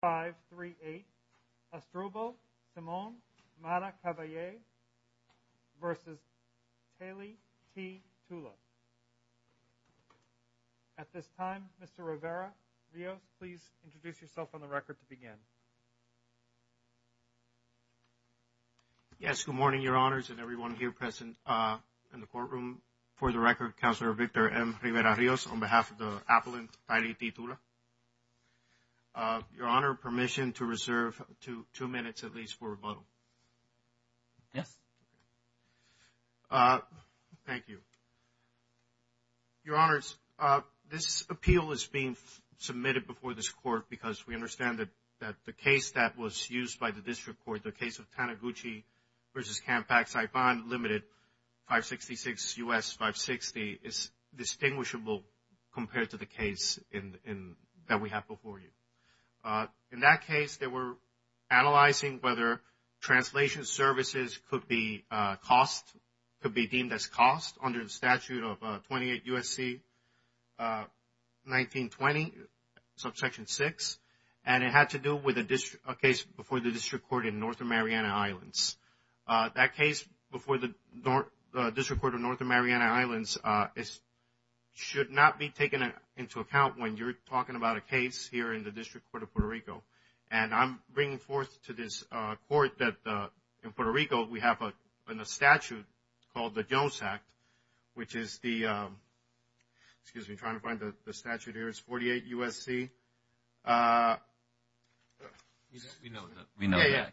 five three eight astro ball simone mana cavalier versus hailey t tula at this time mr rivera rio please introduce yourself on the record to begin yes good morning your honors and everyone here present uh in the courtroom for the record councillor victor m rivera rios on behalf of the appellant title uh your honor permission to reserve two two minutes at least for rebuttal yes uh thank you your honors uh this appeal is being submitted before this court because we understand that that the case that was used by the district court the case of taniguchi versus campax i find limited 566 us 560 is distinguishable compared to the case in in that we have before you uh in that case they were analyzing whether translation services could be uh cost could be deemed as cost under the statute of 28 usc uh 1920 subsection 6 and it had to do with a district a case before the district court in north of mariana islands uh that case before the north district court of north of mariana islands uh is should not be taken into account when you're talking about a case here in the district court of puerto rico and i'm bringing forth to this uh court that uh in puerto rico we have a in a statute called the jones act which is the um excuse me trying to find the statute here it's 48 usc uh we know that we know yeah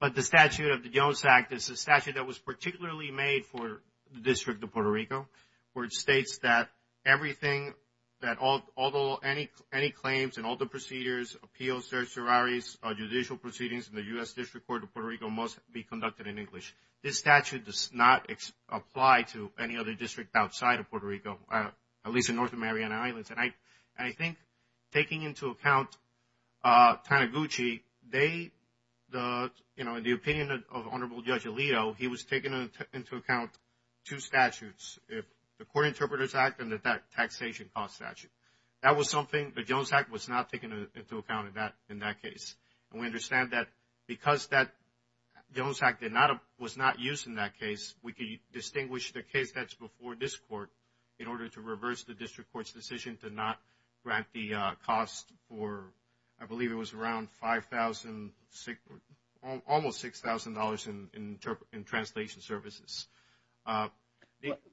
but the statute of the jones act is a statute that was particularly made for the district of puerto rico where it states that everything that all although any any claims and all the procedures appeals their sororities judicial proceedings in the u.s district court of puerto rico must be conducted in english this statute does not apply to any other district outside of puerto rico at least in north of mariana islands and i i think taking into account uh taniguchi they the you know in the opinion of honorable judge alito he was taking into account two statutes if the court interpreters act and that taxation cost statute that was something the jones act was not taken into account in that in that case and we understand that because that jones act did not was not used in that case we could distinguish the case that's before this court in order to reverse the district court's decision to not grant the uh cost for i uh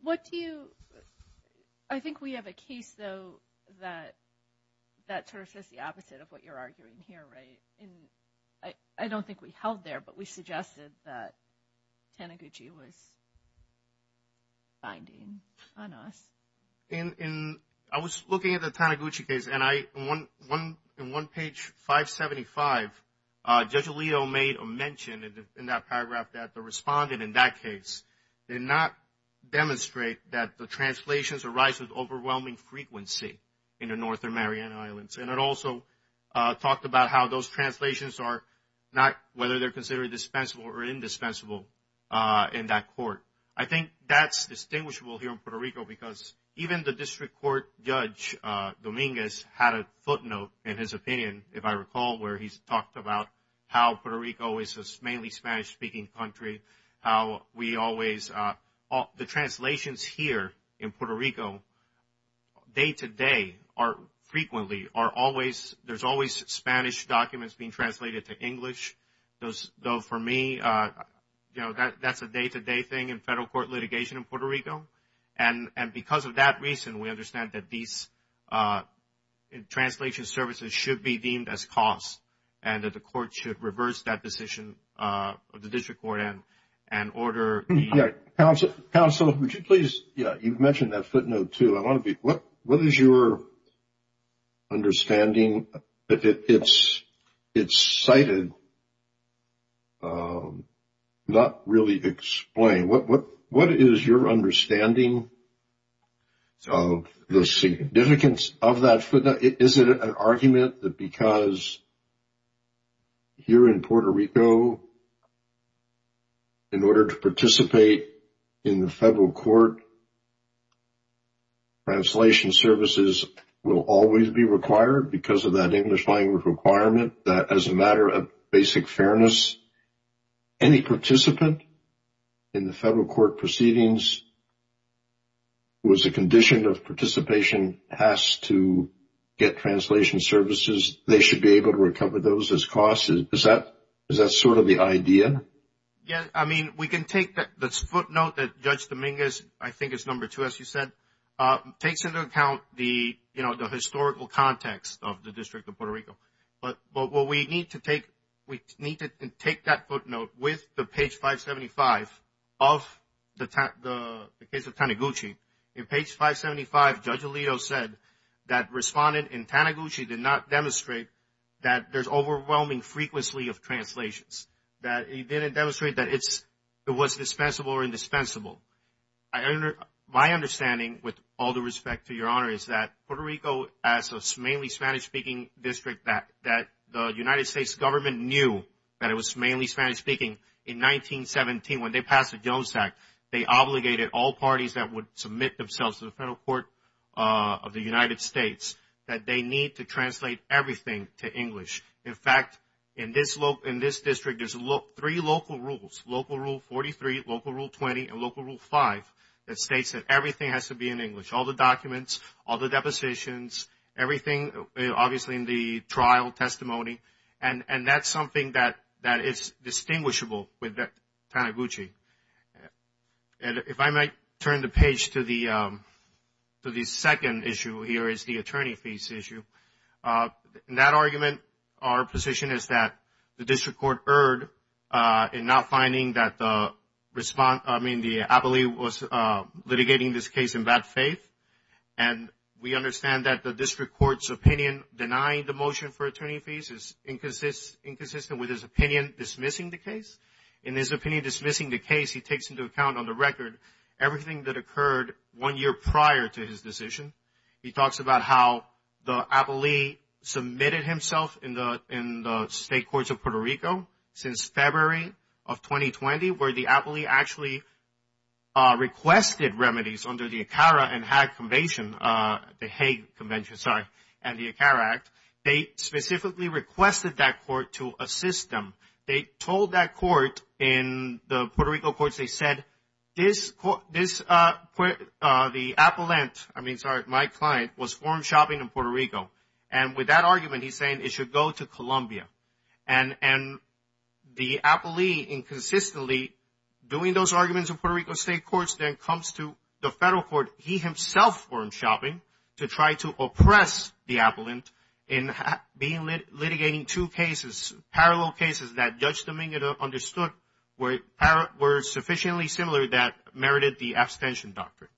what do you i think we have a case though that that sort of says the opposite of what you're arguing here right and i i don't think we held there but we suggested that taniguchi was finding on us in in i was looking at the taniguchi case and i in one one in one page 575 uh judge did not demonstrate that the translations arise with overwhelming frequency in the north of mariana islands and it also uh talked about how those translations are not whether they're considered dispensable or indispensable uh in that court i think that's distinguishable here in puerto rico because even the district court judge uh dominguez had a footnote in his opinion if i recall where he's talked about how puerto rico is mainly spanish-speaking country how we always uh all the translations here in puerto rico day-to-day are frequently are always there's always spanish documents being translated to english those though for me uh you know that that's a day-to-day thing in federal court litigation in puerto rico and and because of that reason we understand that these uh translation services should be deemed as costs and that the yeah council council would you please yeah you've mentioned that footnote too i want to be what what is your understanding that it's it's cited um not really explain what what what is your understanding of the significance of that footnote is it an argument that because here in puerto rico in order to participate in the federal court translation services will always be required because of that english language requirement that as a matter of basic fairness any participant in the federal court proceedings who is a condition of participation has to get translation services they should be able to recover those as costs is that is that sort of the idea yeah i mean we can take that this footnote that judge dominguez i think is number two as you said uh takes into account the you know the historical context of the district of puerto rico but but what we need to take we need to take that footnote with the page 575 of the the case of taneguchi in page 575 judge alito said that respondent in taneguchi did not demonstrate that there's overwhelming frequently of translations that he didn't demonstrate that it's it was dispensable or indispensable i under my understanding with all the respect to your honor is that puerto rico as a mainly spanish-speaking district that that the united states government knew that it was mainly spanish-speaking in 1917 when they passed the jones act they obligated all parties that would submit themselves to the federal court uh of the united states that they need to translate everything to english in fact in this local in this district there's a look three local rules local rule 43 local rule 20 and local rule 5 that states that everything has to be in english all the documents all the depositions everything obviously in the trial testimony and and that's something that that is distinguishable with that taneguchi and if i might turn the page to the um so the second issue here is the attorney fees issue uh in that argument our position is that the district court erred uh in not finding that the response i mean the ability was uh litigating this case in bad faith and we understand that the district court's opinion denying the motion for attorney fees is inconsistent inconsistent with his opinion dismissing the case in his opinion dismissing the case he takes into account on the record everything that occurred one year prior to his decision he talks about how the ability submitted himself in the in the state courts of puerto rico since february of 2020 where the ability actually uh requested remedies under the acara and hag convention uh the haig convention sorry and the acara act they specifically requested that court to assist them they told that court in the puerto rico courts they said this court this uh uh the appellant i mean sorry my client was form shopping in puerto rico and with that argument he's saying it should go to colombia and and the appellee inconsistently doing those arguments in puerto rico state courts then comes to the federal court he himself formed shopping to try to oppress the appellant in being litigating two cases parallel cases that judge dominica understood were were sufficiently similar that merited the abstention doctrine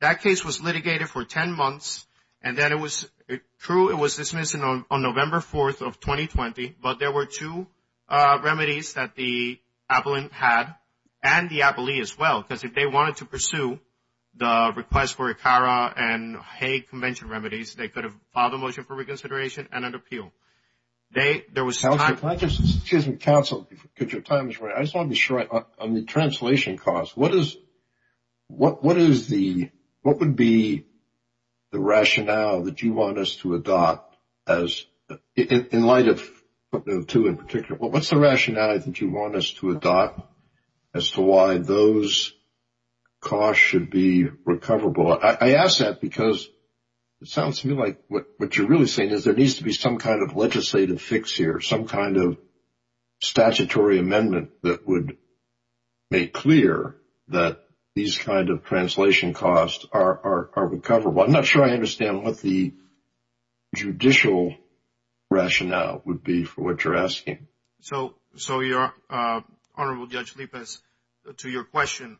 that case was litigated for 10 months and then it was true it was dismissed on november 4th of 2020 but there were two uh remedies that the appellant had and the appellee as well because if they wanted to pursue the request for acara and haig convention remedies they could have filed a motion for reconsideration and an appeal they there was time council because your time is right i just want to be sure on the translation cost what is what what is the what would be the rationale that you want us to adopt as in light of two in particular well what's the rationale that you want us to adopt as to why those costs should be recoverable i i ask that because it sounds to me like what what you're really saying is there needs to be some kind of legislative fix here some kind of statutory amendment that would make clear that these kind of translation costs are are recoverable i'm not sure i understand what the judicial rationale would be for what you're asking so so you're uh honorable judge lipas to your question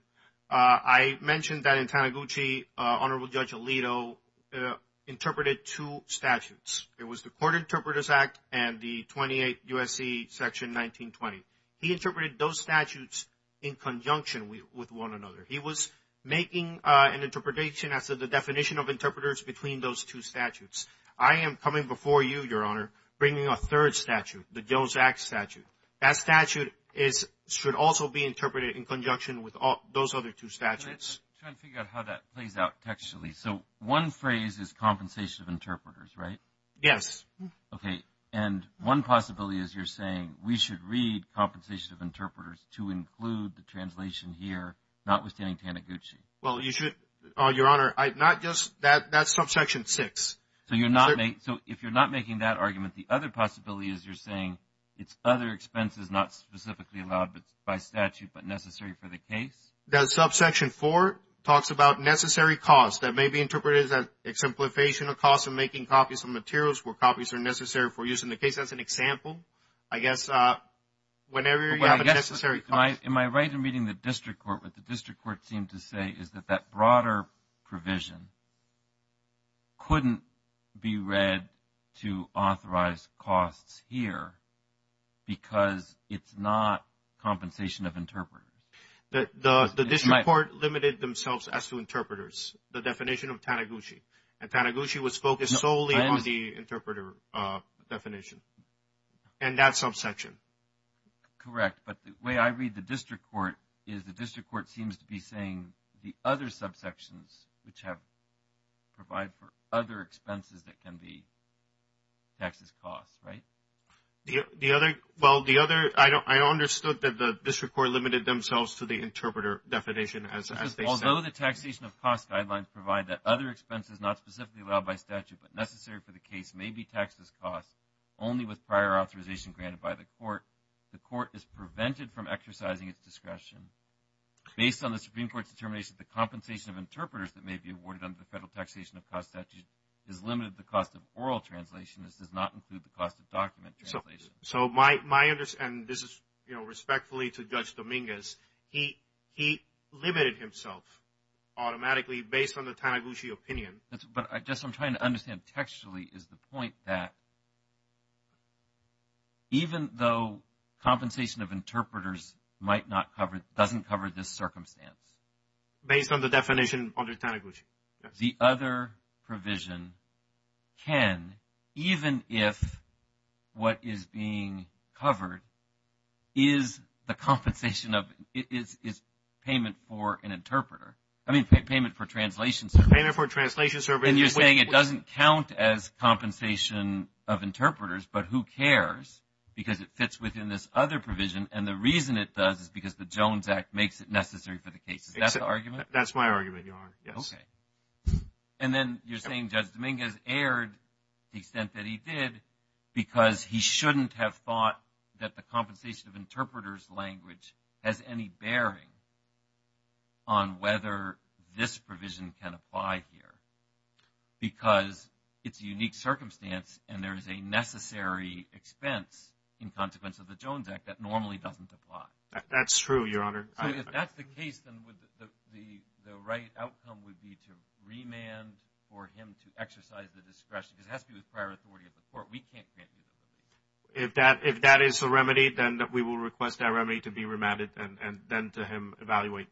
uh i mentioned that in taneguchi uh honorable judge alito uh interpreted two statutes it was the court interpreters act and the 28 usc section 1920 he interpreted those statutes in conjunction with one another he was making uh interpretation as the definition of interpreters between those two statutes i am coming before you your honor bringing a third statute the gills act statute that statute is should also be interpreted in conjunction with all those other two statutes trying to figure out how that plays out textually so one phrase is compensation of interpreters right yes okay and one possibility is you're saying we should read compensation of interpreters to include the translation here notwithstanding well you should oh your honor i not just that that's subsection six so you're not made so if you're not making that argument the other possibility is you're saying it's other expenses not specifically allowed but by statute but necessary for the case that subsection four talks about necessary cause that may be interpreted as a simplification of cost of making copies of materials where copies are necessary for use in the case as an example i guess uh whenever you have a necessary am i right in meeting the district court with the to say is that that broader provision couldn't be read to authorize costs here because it's not compensation of interpreters that the the district court limited themselves as to interpreters the definition of taneguchi and taneguchi was focused solely on the interpreter uh definition and that subsection correct but the way i read the district court is the district court seems to be saying the other subsections which have provide for other expenses that can be taxes costs right the the other well the other i don't i understood that the district court limited themselves to the interpreter definition as although the taxation of cost guidelines provide that other expenses not specifically allowed by statute but necessary for the case may be taxes cost only with prior authorization granted by the court the court is prevented from exercising its discretion based on the supreme court's determination the compensation of interpreters that may be awarded under the federal taxation of cost statute is limited the cost of oral translation this does not include the cost of document translation so my my understand this is you know respectfully to judge dominguez he he limited himself automatically based on the taneguchi opinion that's but i just i'm trying to understand textually is the point that even though compensation of interpreters might not cover doesn't cover this circumstance based on the definition under taneguchi the other provision can even if what is being covered is the compensation of it is is payment for an interpreter i mean payment for translation payment for translation service and you're saying it doesn't count as compensation of interpreters but who cares because it fits within this other provision and the reason it does is because the jones act makes it necessary for the case is that the argument that's my argument you are yes okay and then you're saying judge dominguez aired the extent that he did because he shouldn't have thought that the compensation of interpreters language has any bearing on whether this expense in consequence of the jones act that normally doesn't apply that's true your honor so if that's the case then would the the the right outcome would be to remand for him to exercise the discretion because it has to be with prior authority of the court we can't grant you the remedy if that if that is the remedy then that we will request that remedy to be remanded and and then to him evaluate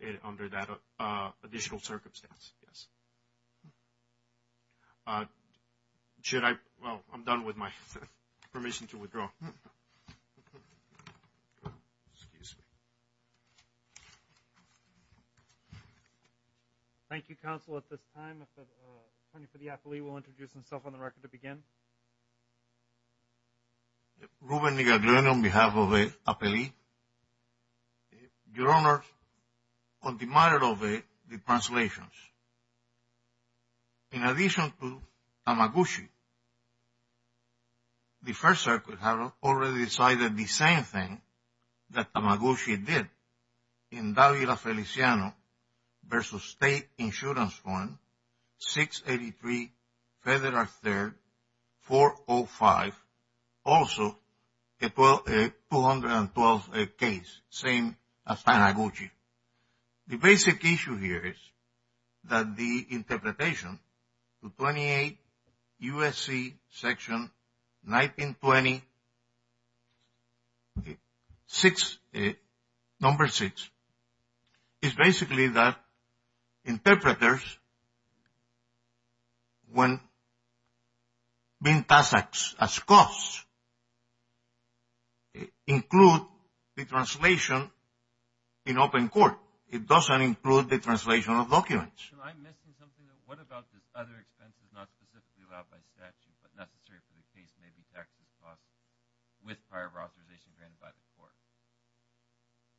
it under that uh additional circumstance yes uh should i well i'm done with my permission to withdraw excuse me thank you counsel at this time if the attorney for the affilee will introduce himself on the record to begin your honor your honor on the matter of the translations in addition to amaguchi the first circuit have already decided the same thing that amaguchi did in davila feliciano versus state insurance fund 683 federal third 405 also a 12 a 212 a case same as amaguchi the basic issue here is that the interpretation to 28 usc section 1920 6 number 6 is basically that interpreters when being passed acts as costs include the translation in open court it doesn't include the translation of documents what about this other expenses not specifically allowed by statute but necessary for the case as possible with prior authorization granted by the court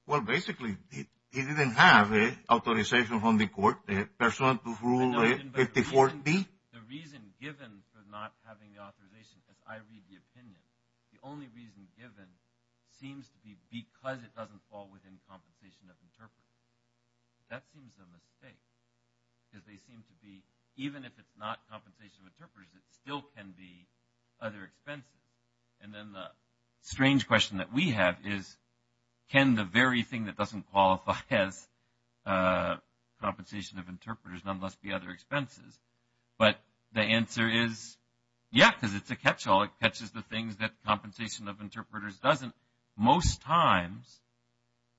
well basically he didn't have a authorization from the court a person to rule a 50 40 the reason given for not having the authorization as i read the opinion the only reason given seems to be because it doesn't fall within compensation of interpreters that seems a mistake because they seem to be even if it's not compensation of interpreters it still can be other expenses and then the strange question that we have is can the very thing that doesn't qualify as uh compensation of interpreters nonetheless be other expenses but the answer is yeah because it's a catch-all it catches the things that compensation of interpreters doesn't most times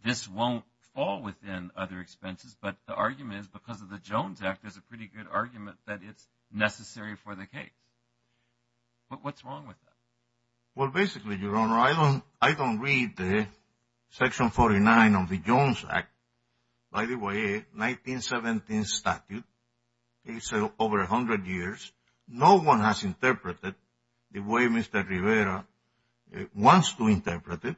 this won't fall within other expenses but the argument is because of the jones act there's a pretty good argument that it's necessary for the case but what's wrong with that well basically your honor i don't i don't read the section 49 of the jones act by the way 1917 statute it's over 100 years no one has interpreted the way mr rivera wants to interpret it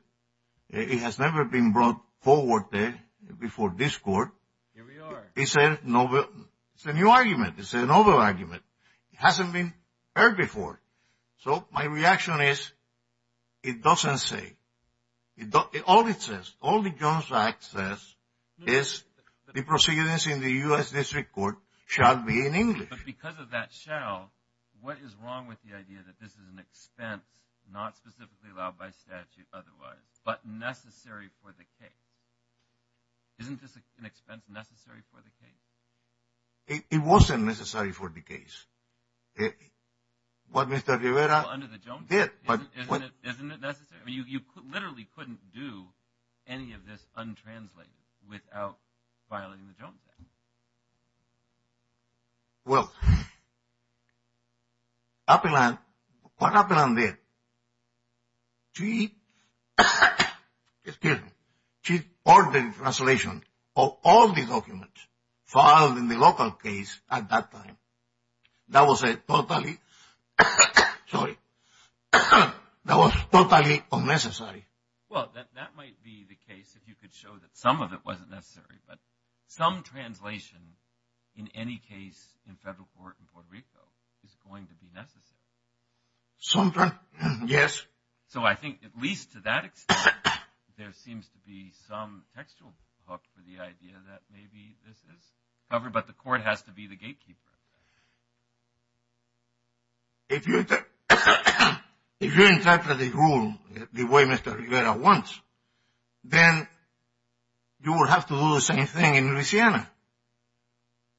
it has never been brought forward there before this court he said no it's a new argument it's a novel argument it hasn't been heard before so my reaction is it doesn't say it all it says all the jones act says is the proceedings in the u.s district court shall be in english but because of that shall what is wrong with the idea that this is an expense not specifically allowed by statute otherwise but necessary for the case isn't this an expense necessary for the case it wasn't necessary for the case what mr rivera under the jones did but isn't it isn't it necessary i mean you literally couldn't do any of this untranslated without violating the jones act well what happened on there she excuse me she ordered translation of all the documents filed in the local case at that time that was a totally sorry that was totally unnecessary well that might be the case if you could show that some of it wasn't necessary but some translation in any case in federal court in puerto rico is going to be necessary sometime yes so i think at least to that extent there seems to be some textual hook for the idea that maybe this is covered but the court has to be the gatekeeper if you if you interpret the rule the way mr rivera wants then you will have to do the same thing in Louisiana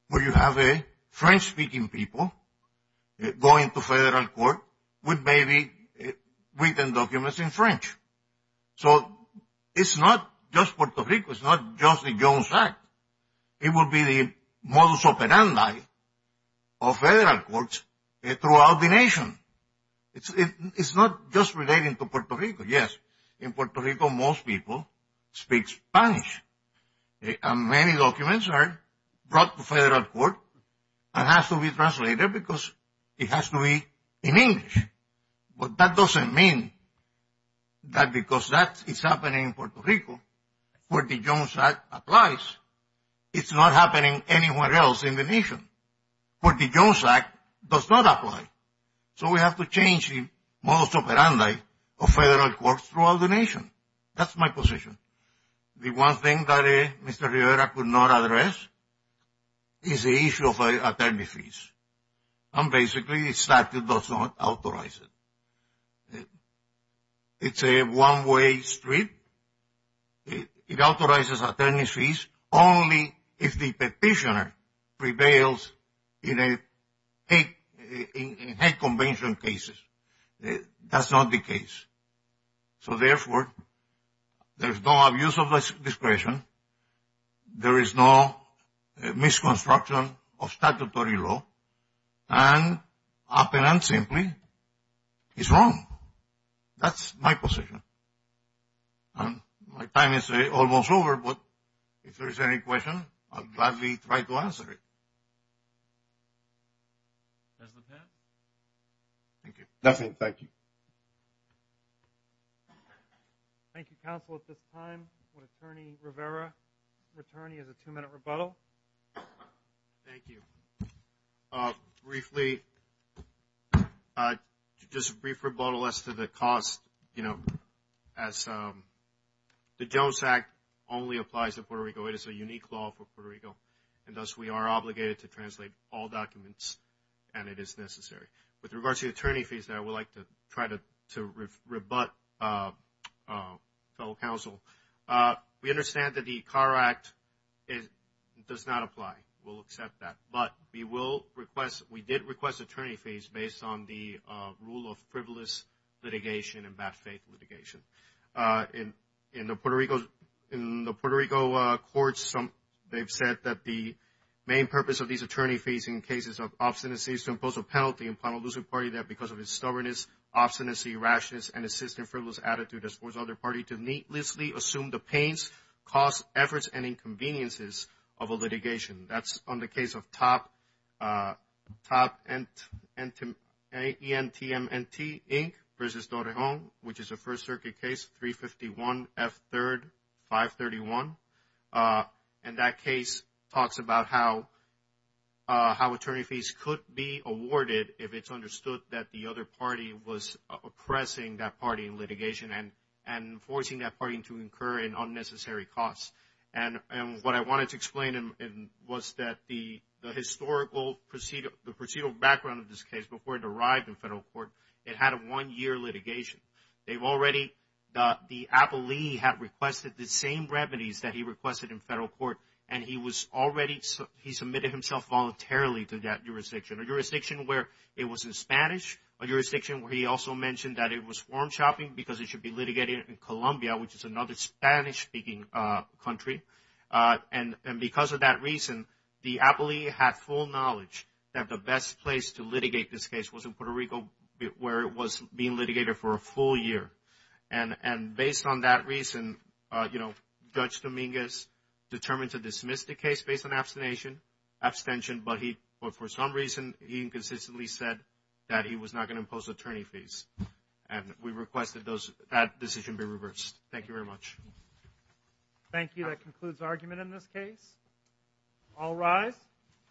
where you have a french speaking people going to federal court with maybe written documents in french so it's not just puerto rico it's not just the jones act it will be the modus operandi of federal courts throughout the nation it's not just relating to puerto rico yes in puerto rico most people speak spanish and many documents are brought to federal court and has to be translated because it has to be in english but that doesn't mean that because that is happening in puerto rico where the jones act applies it's not happening anywhere else in the nation where the jones act does not apply so we have to change the modus operandi of federal courts throughout the nation that's my position the one thing that mr rivera could not address is the issue of attorney fees and basically the statute does not authorize it it's a one way street it authorizes attorney fees only if the petitioner prevails in a in a convention case that's not the case so therefore there is no abuse of discretion there is no misconstruction of statutory law and open and simply it's wrong that's my position and my time is almost over but if there is any question I'll gladly try to answer it thank you thank you counsel at this time attorney rivera attorney has a two minute rebuttal thank you briefly just a brief rebuttal as to the cost as the jones act only applies to puerto rico it is a unique law for puerto rico and thus we are obligated to translate all documents and it is necessary with regards to attorney fees I would like to try to rebut fellow counsel we understand that the car act does not apply we will accept that but we did request attorney fees based on the rule of privilege litigation in the puerto rico courts they've said that the main purpose of these attorney fees in cases of obstinacy is to impose a penalty on the party that because of its stubbornness obstinacy, rashness, and assistant frivolous attitude has forced other party to needlessly assume the pains, costs, efforts and inconveniences of a litigation that's on the case of top entm ink which is a first circuit case 351 f3 531 and that case talks about how how attorney fees could be awarded if it's understood that the other party was oppressing that party in litigation and forcing that party to incur unnecessary costs and what I wanted to explain was that the historical procedural background of this case before it arrived in federal court it had a one year litigation they've already the appellee had requested the same remedies that he requested in federal court and he was already he submitted himself voluntarily to that jurisdiction a jurisdiction where it was in Spanish a jurisdiction where he also mentioned that it was form shopping because it should be litigated in Colombia which is another Spanish speaking country and because of that reason the appellee had full knowledge that the best place to litigate this case was in Puerto Rico where it was being litigated for a full year and based on that reason Judge Dominguez determined to dismiss the case based on abstention but for some reason he inconsistently said that he was not going to impose attorney fees and we requested that decision be reversed thank you very much thank you that concludes the argument in this case all rise